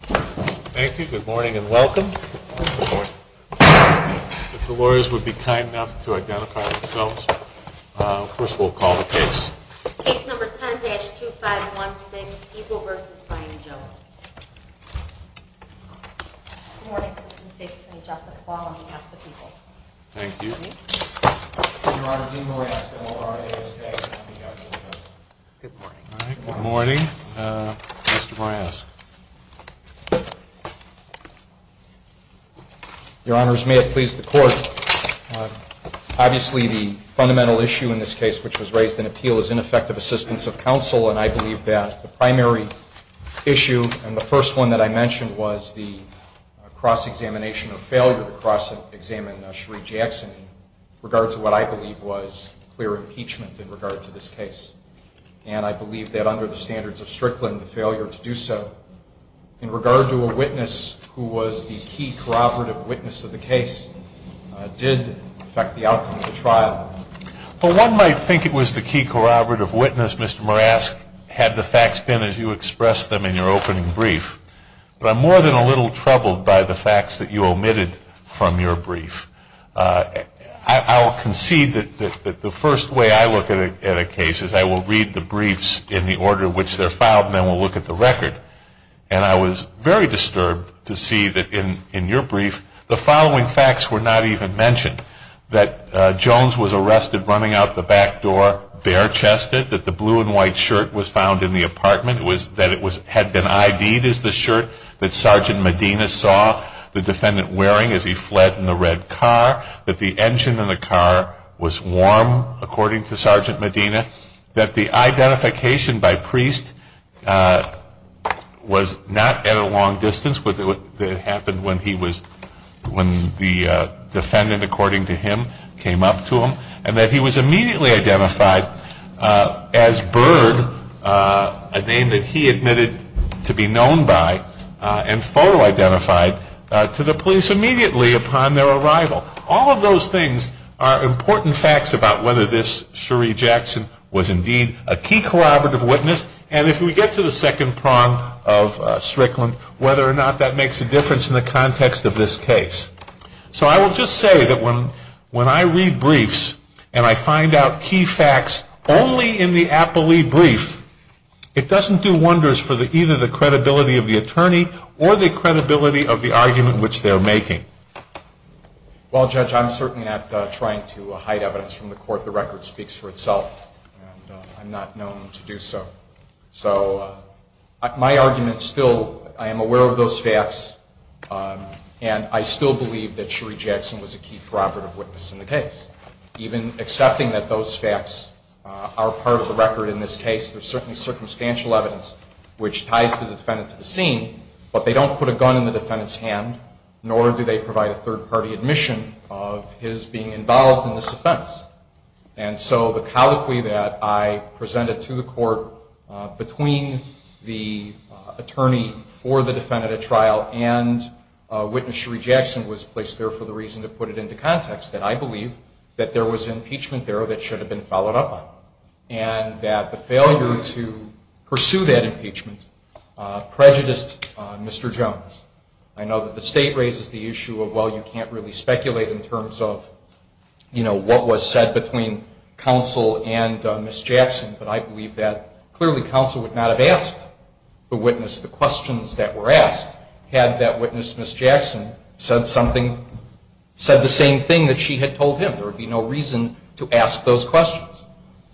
Thank you. Good morning and welcome. If the lawyers would be kind enough to identify themselves. First we'll call the case. Case number 10-2516, Eagle v. Brian Jones. Good morning. Assistant State Attorney Jessica Ball on behalf of the people. Thank you. Your Honor, Dean Moriaska. Good morning. Good morning. Mr. Moriaska. Your Honors, may it please the Court. Obviously the fundamental issue in this case, which was raised in appeal, is ineffective assistance of counsel, and I believe that the primary issue and the first one that I mentioned was the cross-examination of failure to cross-examine Sheree Jackson in regard to what I believe was clear impeachment in regard to this case. And I believe that under the standards of Strickland, the failure to do so. In regard to a witness who was the key corroborative witness of the case, did affect the outcome of the trial? Well, one might think it was the key corroborative witness, Mr. Moriaska, had the facts been as you expressed them in your opening brief. But I'm more than a little troubled by the facts that you omitted from your brief. I will concede that the first way I look at a case is I will read the briefs in the order in which they're filed, and then we'll look at the record. And I was very disturbed to see that in your brief the following facts were not even mentioned, that Jones was arrested running out the back door bare-chested, that the blue and white shirt was found in the apartment, that it had been ID'd as the shirt that Sergeant Medina saw the defendant wearing as he fled in the red car, that the engine in the car was warm, according to Sergeant Medina, that the identification by priest was not at a long distance, that it happened when the defendant, according to him, came up to him, and that he was immediately identified as Bird, a name that he admitted to be known by, and photo-identified to the police immediately upon their arrival. All of those things are important facts about whether this Cherie Jackson was indeed a key corroborative witness, and if we get to the second prong of Strickland, whether or not that makes a difference in the context of this case. So I will just say that when I read briefs and I find out key facts only in the appellee brief, it doesn't do wonders for either the credibility of the attorney or the credibility of the argument which they're making. Well, Judge, I'm certainly not trying to hide evidence from the court. The record speaks for itself, and I'm not known to do so. So my argument still, I am aware of those facts, and I still believe that Cherie Jackson was a key corroborative witness in the case. Even accepting that those facts are part of the record in this case, there's certainly circumstantial evidence which ties the defendant to the scene, but they don't put a gun in the defendant's hand, nor do they provide a third-party admission of his being involved in this offense. And so the colloquy that I presented to the court between the attorney for the defendant at trial and witness Cherie Jackson was placed there for the reason to put it into context, that I believe that there was impeachment there that should have been followed up on, and that the failure to pursue that impeachment prejudiced Mr. Jones. I know that the state raises the issue of, well, you can't really speculate in terms of, you know, what was said between counsel and Ms. Jackson, but I believe that clearly counsel would not have asked the witness the questions that were asked had that witness, Ms. Jackson, said something, said the same thing that she had told him. There would be no reason to ask those questions.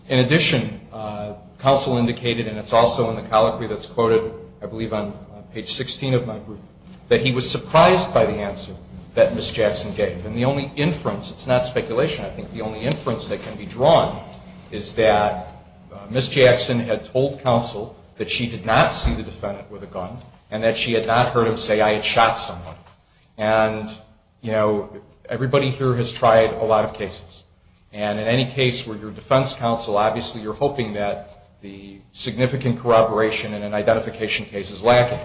In addition, counsel indicated, and it's also in the colloquy that's quoted, I believe on page 16 of my brief, that he was surprised by the answer that Ms. Jackson gave. And the only inference, it's not speculation, I think the only inference that can be drawn is that Ms. Jackson had told counsel that she did not see the defendant with a gun and that she had not heard him say, I had shot someone. And, you know, everybody here has tried a lot of cases. And in any case where your defense counsel, obviously you're hoping that the significant corroboration in an identification case is lacking.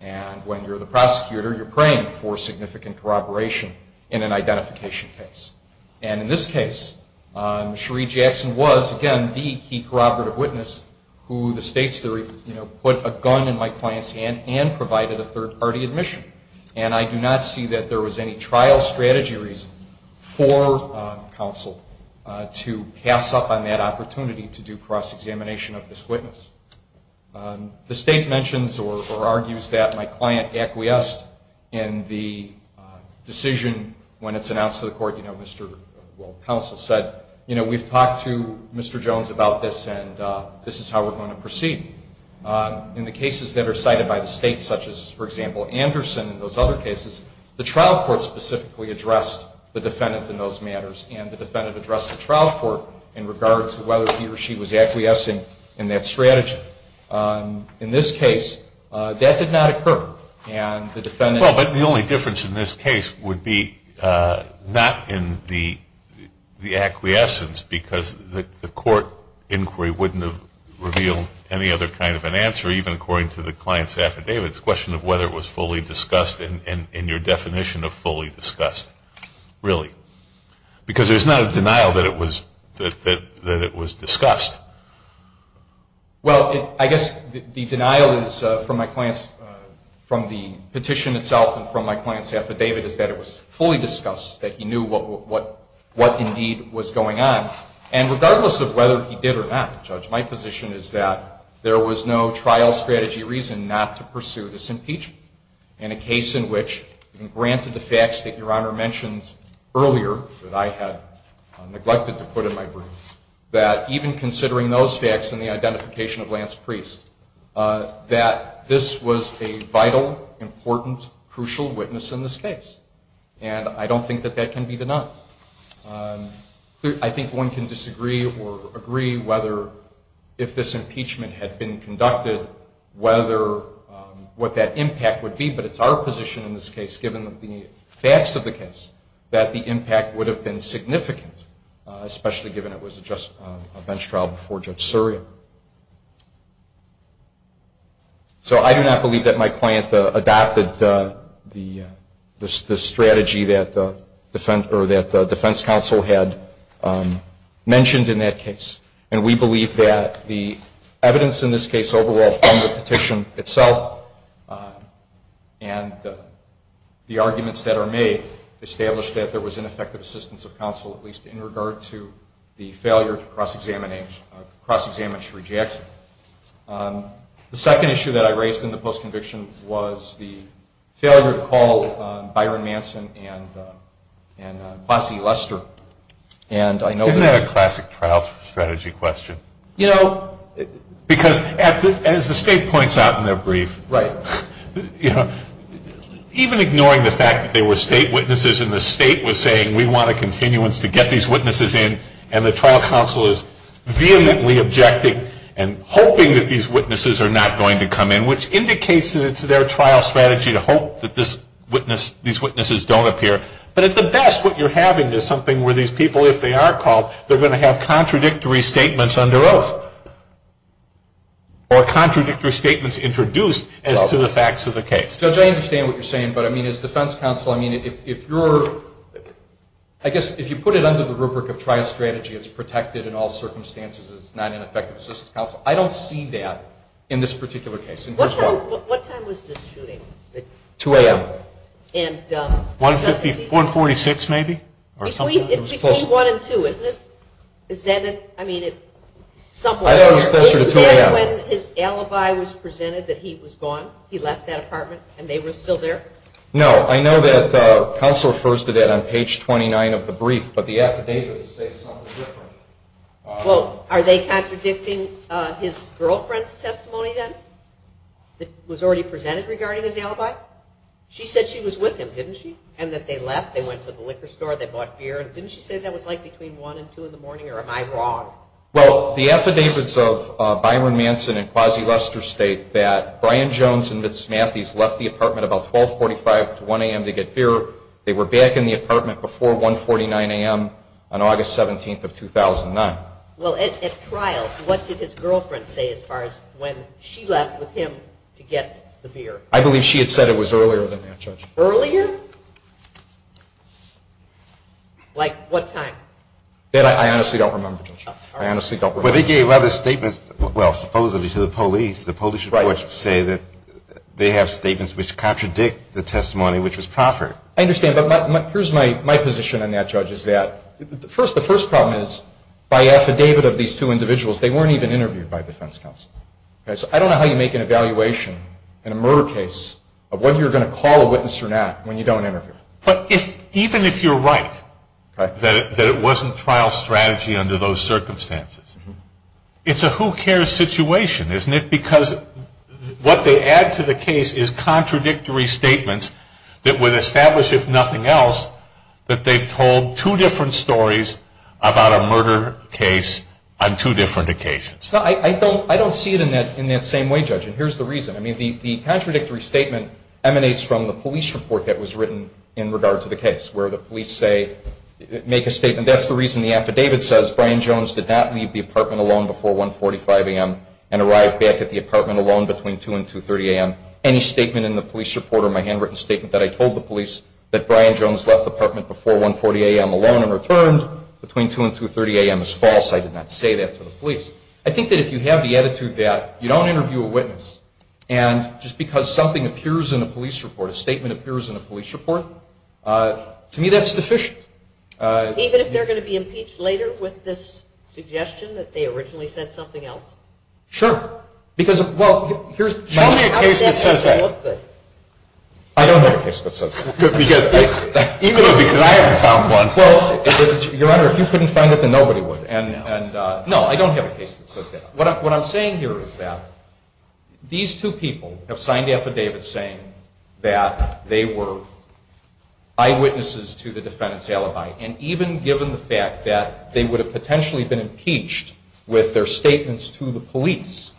And when you're the prosecutor, you're praying for significant corroboration in an identification case. And in this case, Cherie Jackson was, again, the key corroborative witness who the state's theory, you know, put a gun in my client's hand and provided a third-party admission. And I do not see that there was any trial strategy reason for counsel to pass up on that opportunity to do cross-examination of this witness. The state mentions or argues that my client acquiesced in the decision when it's announced to the court, you know, counsel said, you know, we've talked to Mr. Jones about this and this is how we're going to proceed. In the cases that are cited by the state, such as, for example, Anderson and those other cases, the trial court specifically addressed the defendant in those matters. And the defendant addressed the trial court in regard to whether he or she was acquiescing in that strategy. In this case, that did not occur. And the defendant... Well, but the only difference in this case would be not in the acquiescence because the court inquiry wouldn't have revealed any other kind of an answer, even according to the client's affidavit. It's a question of whether it was fully discussed in your definition of fully discussed, really. Because there's not a denial that it was discussed. Well, I guess the denial is from my client's, from the petition itself and from my client's affidavit is that it was fully discussed, that he knew what indeed was going on. And regardless of whether he did or not, Judge, my position is that there was no trial strategy reason not to pursue this impeachment. In a case in which, even granted the facts that Your Honor mentioned earlier that I had neglected to put in my brief, that even considering those facts and the identification of Lance Priest, that this was a vital, important, crucial witness in this case. And I don't think that that can be denied. I think one can disagree or agree whether if this impeachment had been conducted, whether what that impact would be, but it's our position in this case, given the facts of the case, that the impact would have been significant, especially given it was just a bench trial before Judge Suri. So I do not believe that my client adopted the strategy that the defense counsel had mentioned in that case. And we believe that the evidence in this case overall from the petition itself and the arguments that are made, established that there was ineffective assistance of counsel, at least in regard to the failure to cross-examine Shuri Jackson. The second issue that I raised in the post-conviction was the failure to call Byron Manson and Bossie Lester. Isn't that a classic trial strategy question? Because as the State points out in their brief, even ignoring the fact that there were State witnesses and the State was saying we want a continuance to get these witnesses in, and the trial counsel is vehemently objecting and hoping that these witnesses are not going to come in, which indicates that it's their trial strategy to hope that these witnesses don't appear. But at the best, what you're having is something where these people, if they are called, they're going to have contradictory statements under oath or contradictory statements introduced as to the facts of the case. Judge, I understand what you're saying. But, I mean, as defense counsel, I mean, if you're, I guess, if you put it under the rubric of trial strategy, it's protected in all circumstances, it's not ineffective assistance of counsel. I don't see that in this particular case. And here's why. What time was this shooting? 2 a.m. 146 maybe? Between 1 and 2, isn't it? I thought it was closer to 2 a.m. Was it when his alibi was presented that he was gone, he left that apartment, and they were still there? No. I know that counsel refers to that on page 29 of the brief, but the affidavits say something different. Well, are they contradicting his girlfriend's testimony then that was already presented regarding his alibi? She said she was with him, didn't she? And that they left, they went to the liquor store, they bought beer. Didn't she say that was, like, between 1 and 2 in the morning, or am I wrong? Well, the affidavits of Byron Manson and Quasi Lester state that Brian Jones and Ms. Matthees left the apartment about 1245 to 1 a.m. to get beer. They were back in the apartment before 149 a.m. on August 17th of 2009. Well, at trial, what did his girlfriend say as far as when she left with him to get the beer? I believe she had said it was earlier than that, Judge. Earlier? Like what time? That I honestly don't remember, Judge. I honestly don't remember. But they gave other statements, well, supposedly to the police. The police reports say that they have statements which contradict the testimony which was proffered. I understand. But here's my position on that, Judge, is that the first problem is by affidavit of these two individuals, they weren't even interviewed by defense counsel. So I don't know how you make an evaluation in a murder case of whether you're going to call a witness or not when you don't interview. But even if you're right that it wasn't trial strategy under those circumstances, it's a who cares situation, isn't it? Because what they add to the case is contradictory statements that would establish, if nothing else, that they've told two different stories about a murder case on two different occasions. I don't see it in that same way, Judge, and here's the reason. I mean, the contradictory statement emanates from the police report that was written in regard to the case where the police say, make a statement, that's the reason the affidavit says, Brian Jones did not leave the apartment alone before 145 a.m. and arrived back at the apartment alone between 2 and 2.30 a.m. Any statement in the police report or my handwritten statement that I told the police that Brian Jones left the apartment before 140 a.m. alone and returned between 2 and 2.30 a.m. is false. I did not say that to the police. I think that if you have the attitude that you don't interview a witness and just because something appears in a police report, a statement appears in a police report, to me that's deficient. Even if they're going to be impeached later with this suggestion that they originally said something else? Sure. Show me a case that says that. I don't have a case that says that. Even though I haven't found one. Your Honor, if you couldn't find it, then nobody would. No, I don't have a case that says that. What I'm saying here is that these two people have signed affidavits saying that they were eyewitnesses to the defendant's alibi. And even given the fact that they would have potentially been impeached with their statements to the police,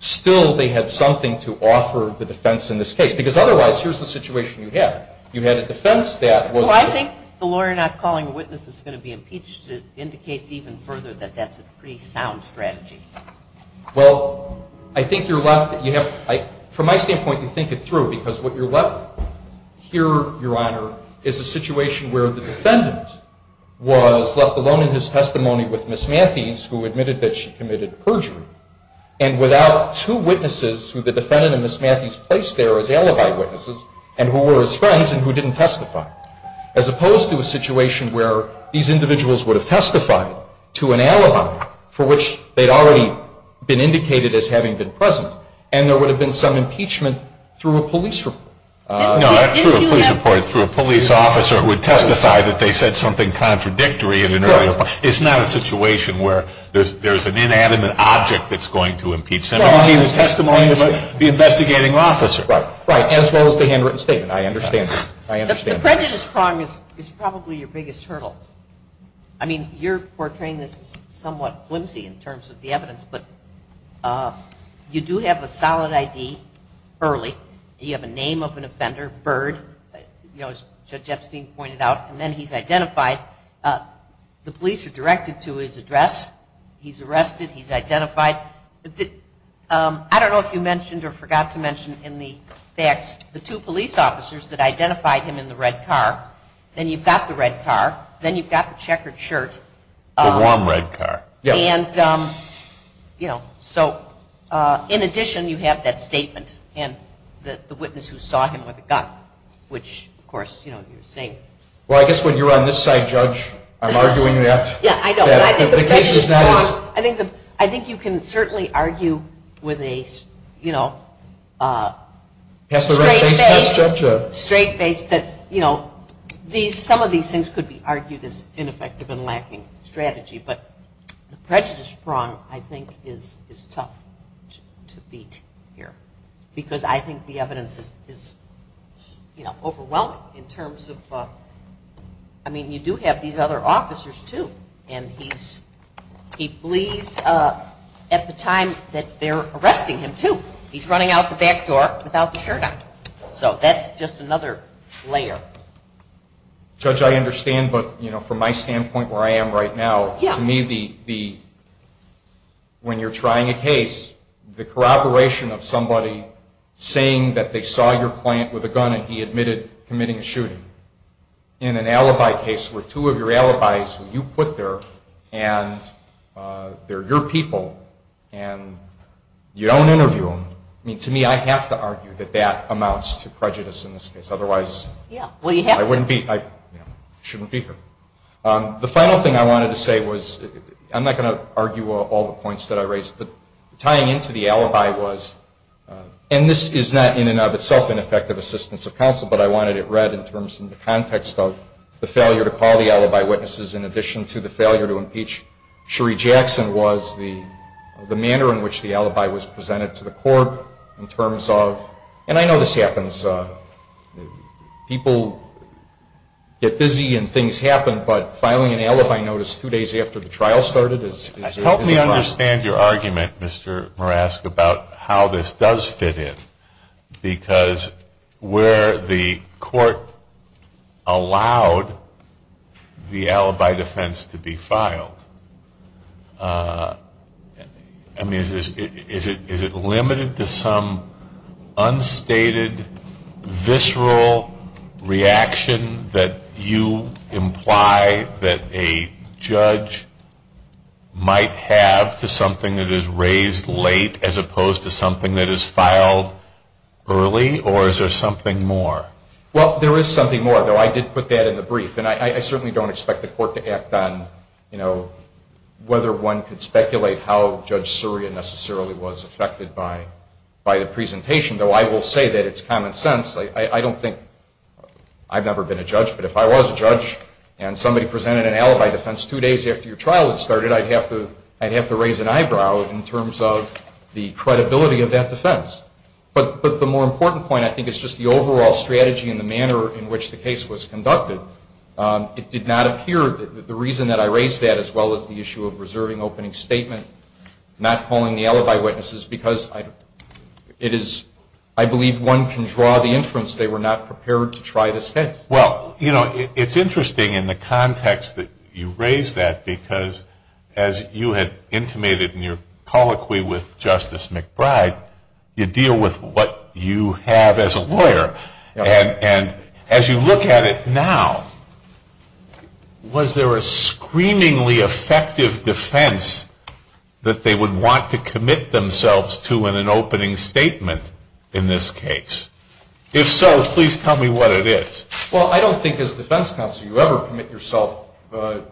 still they had something to offer the defense in this case. Because otherwise, here's the situation you had. You had a defense that was. Well, I think the lawyer not calling a witness that's going to be impeached indicates even further that that's a pretty sound strategy. Well, I think you're left. From my standpoint, you think it through. Because what you're left here, Your Honor, is a situation where the defendant was left alone in his testimony with Ms. Matthews, who admitted that she committed perjury. And without two witnesses who the defendant and Ms. Matthews placed there as alibi witnesses and who were his friends and who didn't testify. As opposed to a situation where these individuals would have testified to an alibi for which they'd already been indicated as having been present. And there would have been some impeachment through a police report. No, not through a police report. Through a police officer who would testify that they said something contradictory in an earlier. It's not a situation where there's an inanimate object that's going to impeach them. I mean, the testimony of the investigating officer. Right. Right. As well as the handwritten statement. I understand that. I understand that. The prejudice prong is probably your biggest hurdle. I mean, you're portraying this as somewhat flimsy in terms of the evidence. But you do have a solid ID early. You have a name of an offender, Byrd, as Judge Epstein pointed out. And then he's identified. The police are directed to his address. He's arrested. He's identified. I don't know if you mentioned or forgot to mention in the facts the two police officers that identified him in the red car. Then you've got the red car. Then you've got the checkered shirt. The warm red car. Yes. And, you know, so in addition, you have that statement and the witness who saw him with a gun, which, of course, you know, you're saying. Well, I guess when you're on this side, Judge, I'm arguing that. Yeah, I know. But I think the prejudice prong, I think you can certainly argue with a, you know, straight face. Straight face that, you know, some of these things could be argued as ineffective and lacking strategy. But the prejudice prong, I think, is tough to beat here. Because I think the evidence is, you know, overwhelming in terms of, I mean, you do have these other officers, too. And he flees at the time that they're arresting him, too. He's running out the back door without the shirt on. So that's just another layer. Judge, I understand. But, you know, from my standpoint where I am right now, to me, when you're trying a case, the corroboration of somebody saying that they saw your client with a gun and he admitted committing a shooting in an alibi case where two of your alibis you put there and they're your people and you don't interview them, I mean, to me, I have to argue that that amounts to prejudice in this case. Otherwise, I wouldn't be, you know, I shouldn't be here. The final thing I wanted to say was, I'm not going to argue all the points that I raised, but tying into the alibi was, and this is not in and of itself an effective assistance of counsel, but I wanted it read in terms of the context of the failure to call the alibi witnesses in addition to the failure to impeach Sheree Jackson was the manner in which the alibi was presented to the court in terms of, and I know this happens, people get busy and things happen, but filing an alibi notice two days after the trial started is a problem. Help me understand your argument, Mr. Marask, about how this does fit in. Because where the court allowed the alibi defense to be filed, I mean, is it limited to some unstated visceral reaction that you imply that a judge might have to something that is raised late as opposed to something that is presented early, or is there something more? Well, there is something more, though. I did put that in the brief, and I certainly don't expect the court to act on, you know, whether one could speculate how Judge Surya necessarily was affected by the presentation, though I will say that it's common sense. I don't think, I've never been a judge, but if I was a judge and somebody presented an alibi defense two days after your trial had started, I'd have to raise an eyebrow in terms of the credibility of that defense. But the more important point, I think, is just the overall strategy and the manner in which the case was conducted. It did not appear, the reason that I raised that, as well as the issue of reserving opening statement, not calling the alibi witnesses, because it is, I believe one can draw the inference they were not prepared to try this case. Well, you know, it's interesting in the context that you raise that, because as you had intimated in your colloquy with Justice McBride, you deal with what you have as a lawyer. And as you look at it now, was there a screamingly effective defense that they would want to commit themselves to in an opening statement in this case? If so, please tell me what it is. Well, I don't think as defense counsel you ever commit yourself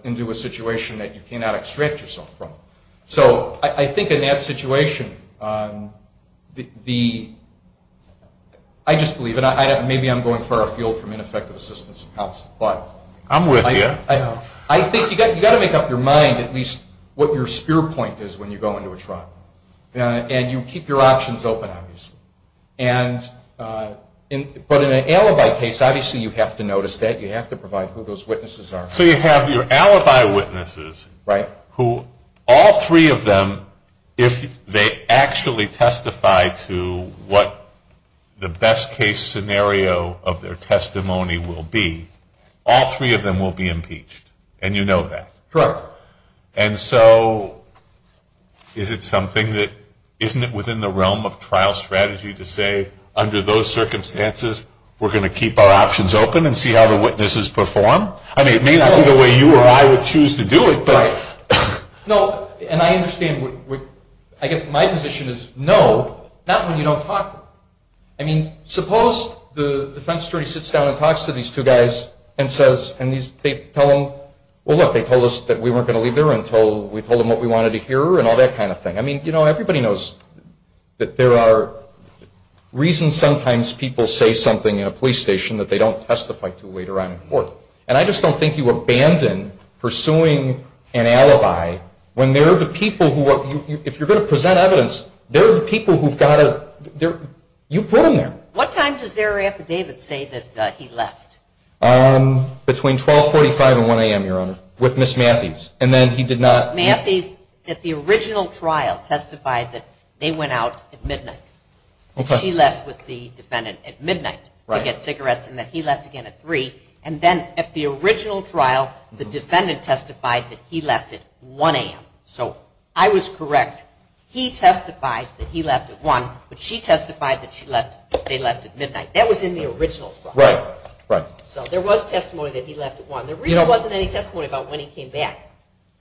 into a situation that you cannot extract yourself from. So I think in that situation, I just believe, and maybe I'm going far afield from ineffective assistance of counsel. I'm with you. I think you've got to make up your mind at least what your spear point is when you go into a trial. And you keep your options open, obviously. But in an alibi case, obviously you have to notice that. You have to provide who those witnesses are. So you have your alibi witnesses who all three of them, if they actually testify to what the best case scenario of their testimony will be, all three of them will be impeached. And you know that. Correct. And so is it something that isn't it within the realm of trial strategy to say, under those circumstances, we're going to keep our options open and see how the witnesses perform? I mean, it may not be the way you or I would choose to do it. Right. No, and I understand. I guess my position is no, not when you don't talk to them. I mean, suppose the defense attorney sits down and talks to these two guys and they tell them, well, look, they told us that we weren't going to leave there until we told them what we wanted to hear and all that kind of thing. I mean, you know, everybody knows that there are reasons sometimes people say something in a police station that they don't testify to later on in court. And I just don't think you abandon pursuing an alibi when they're the people who, if you're going to present evidence, they're the people who've got to, you put them there. What time does their affidavit say that he left? Between 1245 and 1 a.m., Your Honor, with Ms. Matthews. And then he did not. Matthews, at the original trial, testified that they went out at midnight. She left with the defendant at midnight to get cigarettes, and that he left again at 3. And then at the original trial, the defendant testified that he left at 1 a.m. So I was correct. He testified that he left at 1, but she testified that they left at midnight. That was in the original trial. So there was testimony that he left at 1. There really wasn't any testimony about when he came back,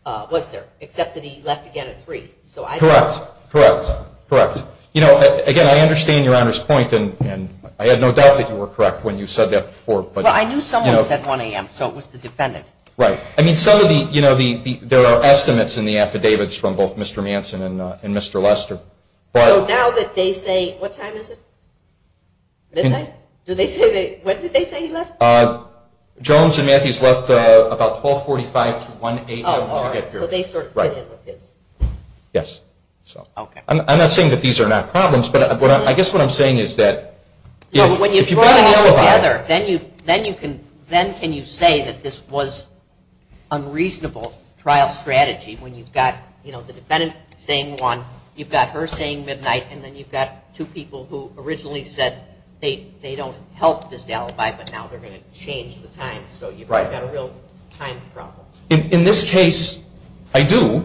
was there, except that he left again at 3. Correct, correct, correct. You know, again, I understand Your Honor's point, and I had no doubt that you were correct when you said that before. Well, I knew someone said 1 a.m., so it was the defendant. Right. I mean, some of the, you know, there are estimates in the affidavits from both Mr. Manson and Mr. Lester. So now that they say, what time is it? Midnight? When did they say he left? Jones and Matthews left about 1245 to 1 a.m. to get cigarettes. So they sort of fit in with this. Yes. I'm not saying that these are not problems, but I guess what I'm saying is that if you put it all together, then can you say that this was unreasonable trial strategy when you've got, you know, the defendant saying 1, you've got her saying midnight, and then you've got two people who originally said they don't help this alibi, but now they're going to change the time. So you've got a real time problem. In this case, I do,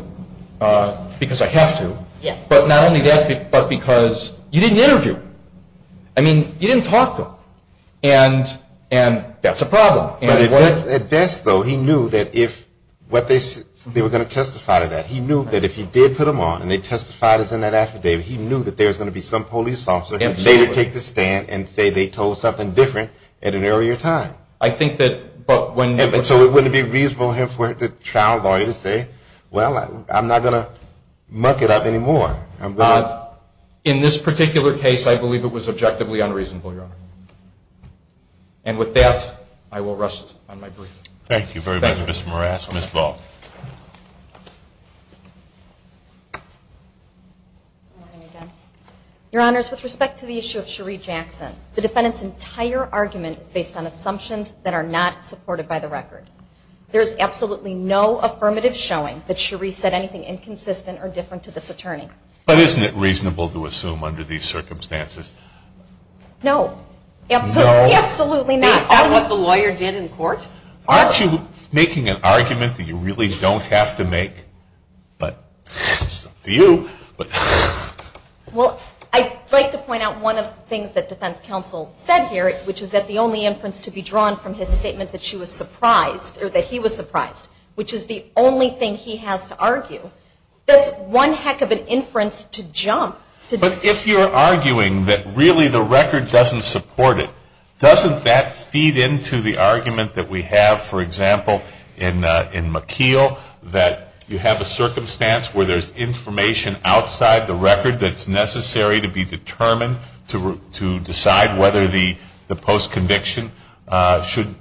because I have to. Yes. But not only that, but because you didn't interview. I mean, you didn't talk to him. And that's a problem. But at best, though, he knew that if what they were going to testify to that, he knew that if he did put them on and they testified as in that affidavit, he knew that there was going to be some police officer who would later take the stand and say they told something different at an earlier time. I think that, but when you. And so it wouldn't be reasonable for the trial lawyer to say, well, I'm not going to muck it up anymore. In this particular case, I believe it was objectively unreasonable, Your Honor. And with that, I will rest on my brief. Thank you very much, Mr. Morales. Ms. Ball. Good morning again. Your Honors, with respect to the issue of Cherie Jackson, the defendant's entire argument is based on assumptions that are not supported by the record. There is absolutely no affirmative showing that Cherie said anything inconsistent or different to this attorney. But isn't it reasonable to assume under these circumstances? No. Absolutely not. Is that what the lawyer did in court? Aren't you making an argument that you really don't have to make? But it's up to you. Well, I'd like to point out one of the things that defense counsel said here, which is that the only inference to be drawn from his statement that she was surprised, or that he was surprised, which is the only thing he has to argue, that's one heck of an inference to jump. But if you're arguing that really the record doesn't support it, doesn't that feed into the argument that we have, for example, in McKeel, that you have a circumstance where there's information outside the record that's necessary to be determined to decide whether the post-conviction should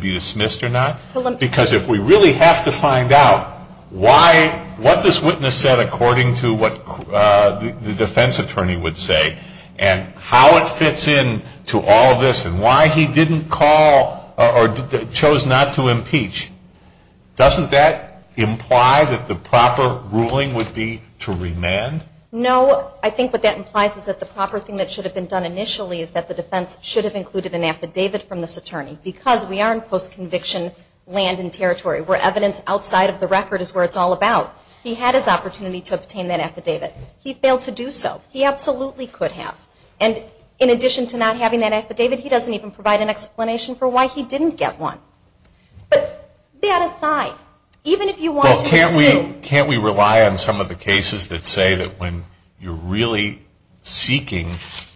be dismissed or not? Because if we really have to find out what this witness said according to what the defense attorney would say, and how it fits in to all this, and why he didn't call or chose not to impeach, doesn't that imply that the proper ruling would be to remand? No. I think what that implies is that the proper thing that should have been done initially is that the defense should have included an affidavit from this attorney, because we are in post-conviction land and territory, where evidence outside of the record is where it's all about. He had his opportunity to obtain that affidavit. He failed to do so. He absolutely could have. And in addition to not having that affidavit, he doesn't even provide an explanation for why he didn't get one. But that aside, even if you want to sue. Well, can't we rely on some of the cases that say that when you're really seeking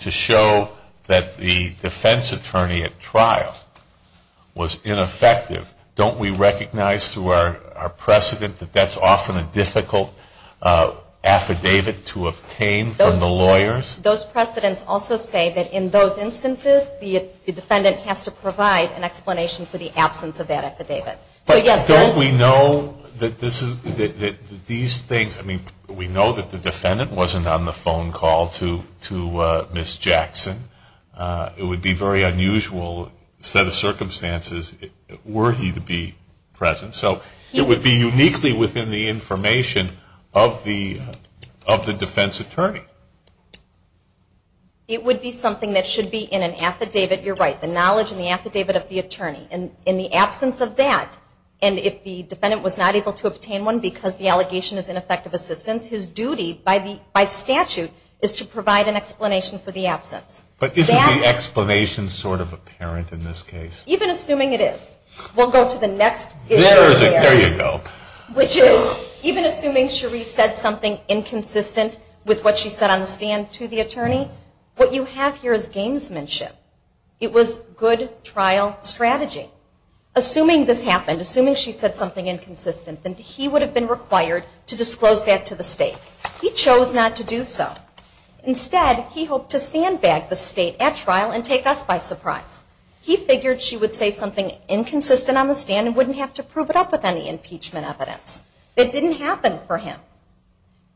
to show that the defense attorney at trial was ineffective, don't we recognize through our precedent that that's often a difficult affidavit to obtain from the lawyers? Those precedents also say that in those instances, the defendant has to provide an explanation for the absence of that affidavit. But don't we know that these things, I mean, we know that the defendant wasn't on the phone call to Ms. Jackson. It would be a very unusual set of circumstances were he to be present. So it would be uniquely within the information of the defense attorney. It would be something that should be in an affidavit. You're right. The knowledge in the affidavit of the attorney. In the absence of that, and if the defendant was not able to obtain one because the allegation is ineffective assistance, his duty by statute is to provide an explanation for the absence. But isn't the explanation sort of apparent in this case? Even assuming it is. We'll go to the next issue. There is it. There you go. Which is, even assuming Cherie said something inconsistent with what she said on the stand to the attorney, what you have here is gamesmanship. It was good trial strategy. Assuming this happened, assuming she said something inconsistent, then he would have been required to disclose that to the state. He chose not to do so. Instead, he hoped to sandbag the state at trial and take us by surprise. He figured she would say something inconsistent on the stand and wouldn't have to prove it up with any impeachment evidence. It didn't happen for him.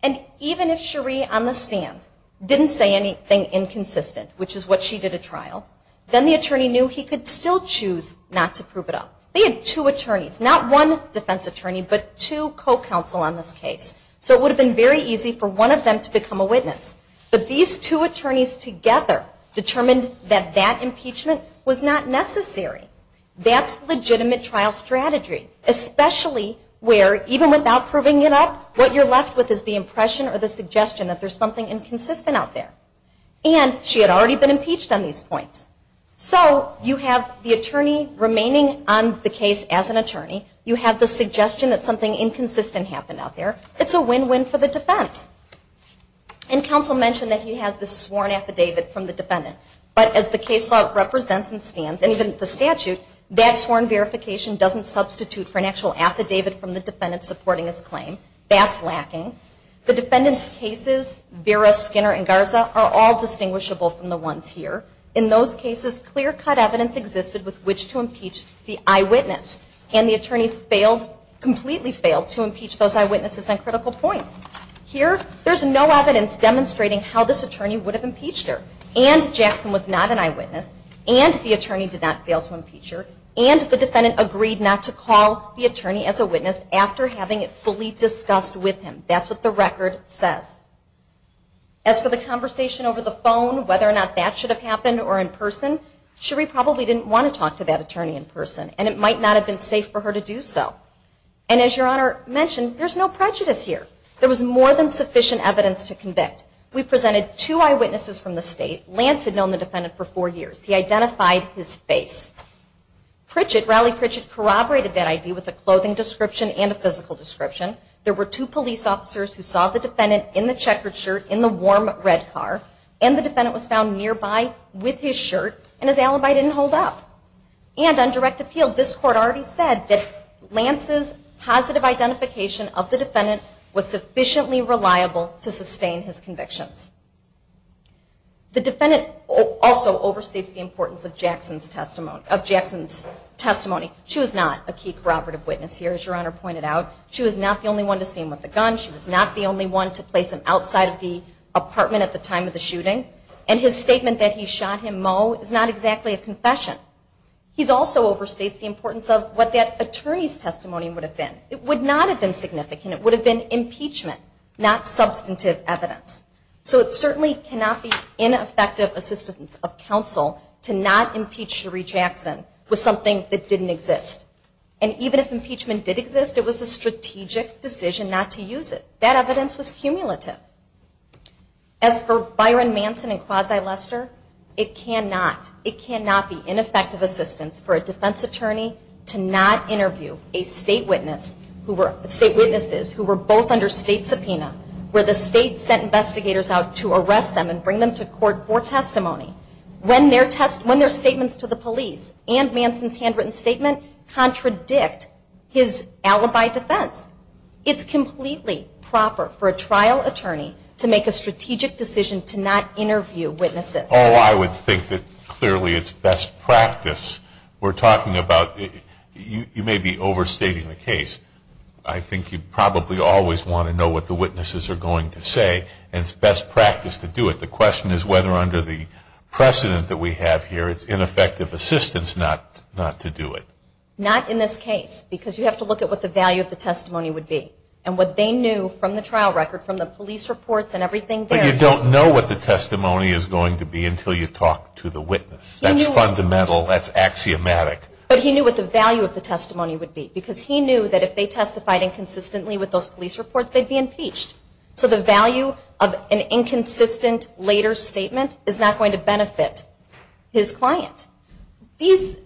And even if Cherie on the stand didn't say anything inconsistent, which is what she did at trial, then the attorney knew he could still choose not to prove it up. They had two attorneys, not one defense attorney, but two co-counsel on this case. So it would have been very easy for one of them to become a witness. But these two attorneys together determined that that impeachment was not necessary. That's legitimate trial strategy, especially where even without proving it up, what you're left with is the impression or the suggestion that there's something inconsistent out there. And she had already been impeached on these points. So you have the attorney remaining on the case as an attorney. You have the suggestion that something inconsistent happened out there. It's a win-win for the defense. And counsel mentioned that he had the sworn affidavit from the defendant. But as the case law represents and stands, and even the statute, that sworn verification doesn't substitute for an actual affidavit from the defendant supporting his claim. That's lacking. The defendant's cases, Vera, Skinner, and Garza, are all distinguishable from the ones here. In those cases, clear-cut evidence existed with which to impeach the eyewitness. And the attorneys failed, completely failed, to impeach those eyewitnesses on critical points. Here, there's no evidence demonstrating how this attorney would have impeached her. And Jackson was not an eyewitness. And the attorney did not fail to impeach her. And the defendant agreed not to call the attorney as a witness after having it fully discussed with him. That's what the record says. As for the conversation over the phone, whether or not that should have happened or in person, Cherie probably didn't want to talk to that attorney in person. And it might not have been safe for her to do so. And as Your Honor mentioned, there's no prejudice here. There was more than sufficient evidence to convict. We presented two eyewitnesses from the state. Lance had known the defendant for four years. He identified his face. Pritchett, Raleigh Pritchett, corroborated that idea with a clothing description and a physical description. There were two police officers who saw the defendant in the checkered shirt, in the warm red car. And the defendant was found nearby with his shirt, and his alibi didn't hold up. And on direct appeal, this Court already said that Lance's positive identification of the defendant was sufficiently reliable to sustain his convictions. The defendant also overstates the importance of Jackson's testimony. She was not a key corroborative witness here, as Your Honor pointed out. She was not the only one to see him with a gun. She was not the only one to place him outside of the apartment at the time of the shooting. And his statement that he shot him, Mo, is not exactly a confession. He also overstates the importance of what that attorney's testimony would have been. It would not have been significant. It would have been impeachment, not substantive evidence. So it certainly cannot be ineffective assistance of counsel to not impeach Cherie Jackson with something that didn't exist. And even if impeachment did exist, it was a strategic decision not to use it. That evidence was cumulative. As for Byron Manson and Quasi Lester, it cannot be ineffective assistance for a defense attorney to not interview state witnesses who were both under state subpoena where the state sent investigators out to arrest them and bring them to court for testimony when their statements to the police and Manson's handwritten statement contradict his alibi defense. It's completely proper for a trial attorney to make a strategic decision to not interview witnesses. Oh, I would think that clearly it's best practice. We're talking about you may be overstating the case. I think you probably always want to know what the witnesses are going to say, and it's best practice to do it. The question is whether under the precedent that we have here it's ineffective assistance not to do it. Not in this case, because you have to look at what the value of the testimony would be and what they knew from the trial record, from the police reports and everything there. But you don't know what the testimony is going to be until you talk to the witness. That's fundamental. That's axiomatic. But he knew what the value of the testimony would be because he knew that if they testified inconsistently with those police reports, they'd be impeached. So the value of an inconsistent later statement is not going to benefit his client. These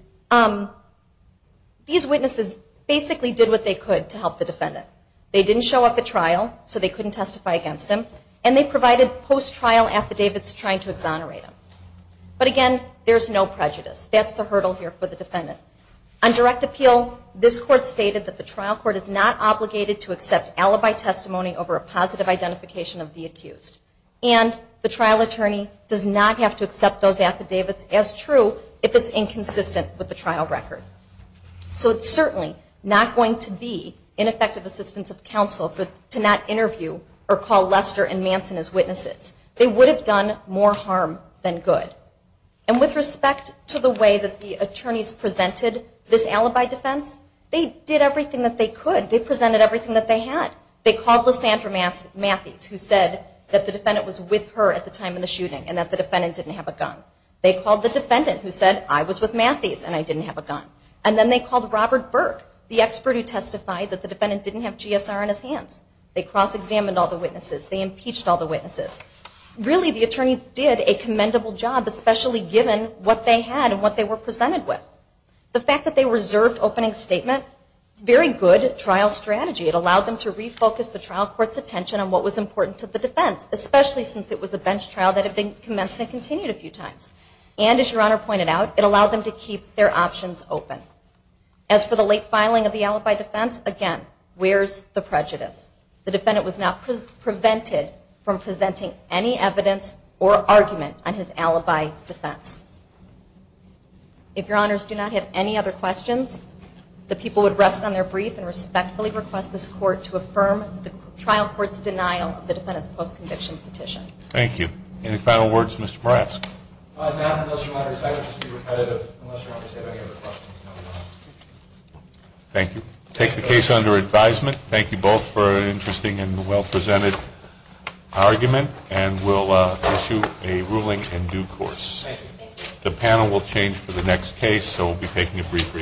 witnesses basically did what they could to help the defendant. They didn't show up at trial, so they couldn't testify against him, and they provided post-trial affidavits trying to exonerate him. But again, there's no prejudice. That's the hurdle here for the defendant. On direct appeal, this Court stated that the trial court is not obligated to accept alibi testimony over a positive identification of the accused. And the trial attorney does not have to accept those affidavits as true if it's inconsistent with the trial record. So it's certainly not going to be ineffective assistance of counsel to not interview or call Lester and Manson as witnesses. They would have done more harm than good. And with respect to the way that the attorneys presented this alibi defense, they did everything that they could. They presented everything that they had. They called Lysandra Matthews, who said that the defendant was with her at the time of the shooting and that the defendant didn't have a gun. They called the defendant who said, I was with Matthews and I didn't have a gun. And then they called Robert Burke, the expert who testified that the defendant didn't have GSR in his hands. They cross-examined all the witnesses. They impeached all the witnesses. Really, the attorneys did a commendable job, especially given what they had and what they were presented with. The fact that they reserved opening statement is a very good trial strategy. It allowed them to refocus the trial court's attention on what was important to the defense, especially since it was a bench trial that had been commenced and continued a few times. And, as Your Honor pointed out, it allowed them to keep their options open. As for the late filing of the alibi defense, again, where's the prejudice? The defendant was not prevented from presenting any evidence or argument on his alibi defense. If Your Honors do not have any other questions, the people would rest on their brief and respectfully request this court to affirm the trial court's denial of the defendant's post-conviction petition. Thank you. Any final words, Mr. Moresk? No, unless Your Honor decides it should be repetitive, unless Your Honor has any other questions. Thank you. I take the case under advisement. Thank you both for an interesting and well-presented argument, and we'll issue a ruling in due course. The panel will change for the next case, so we'll be taking a brief recess.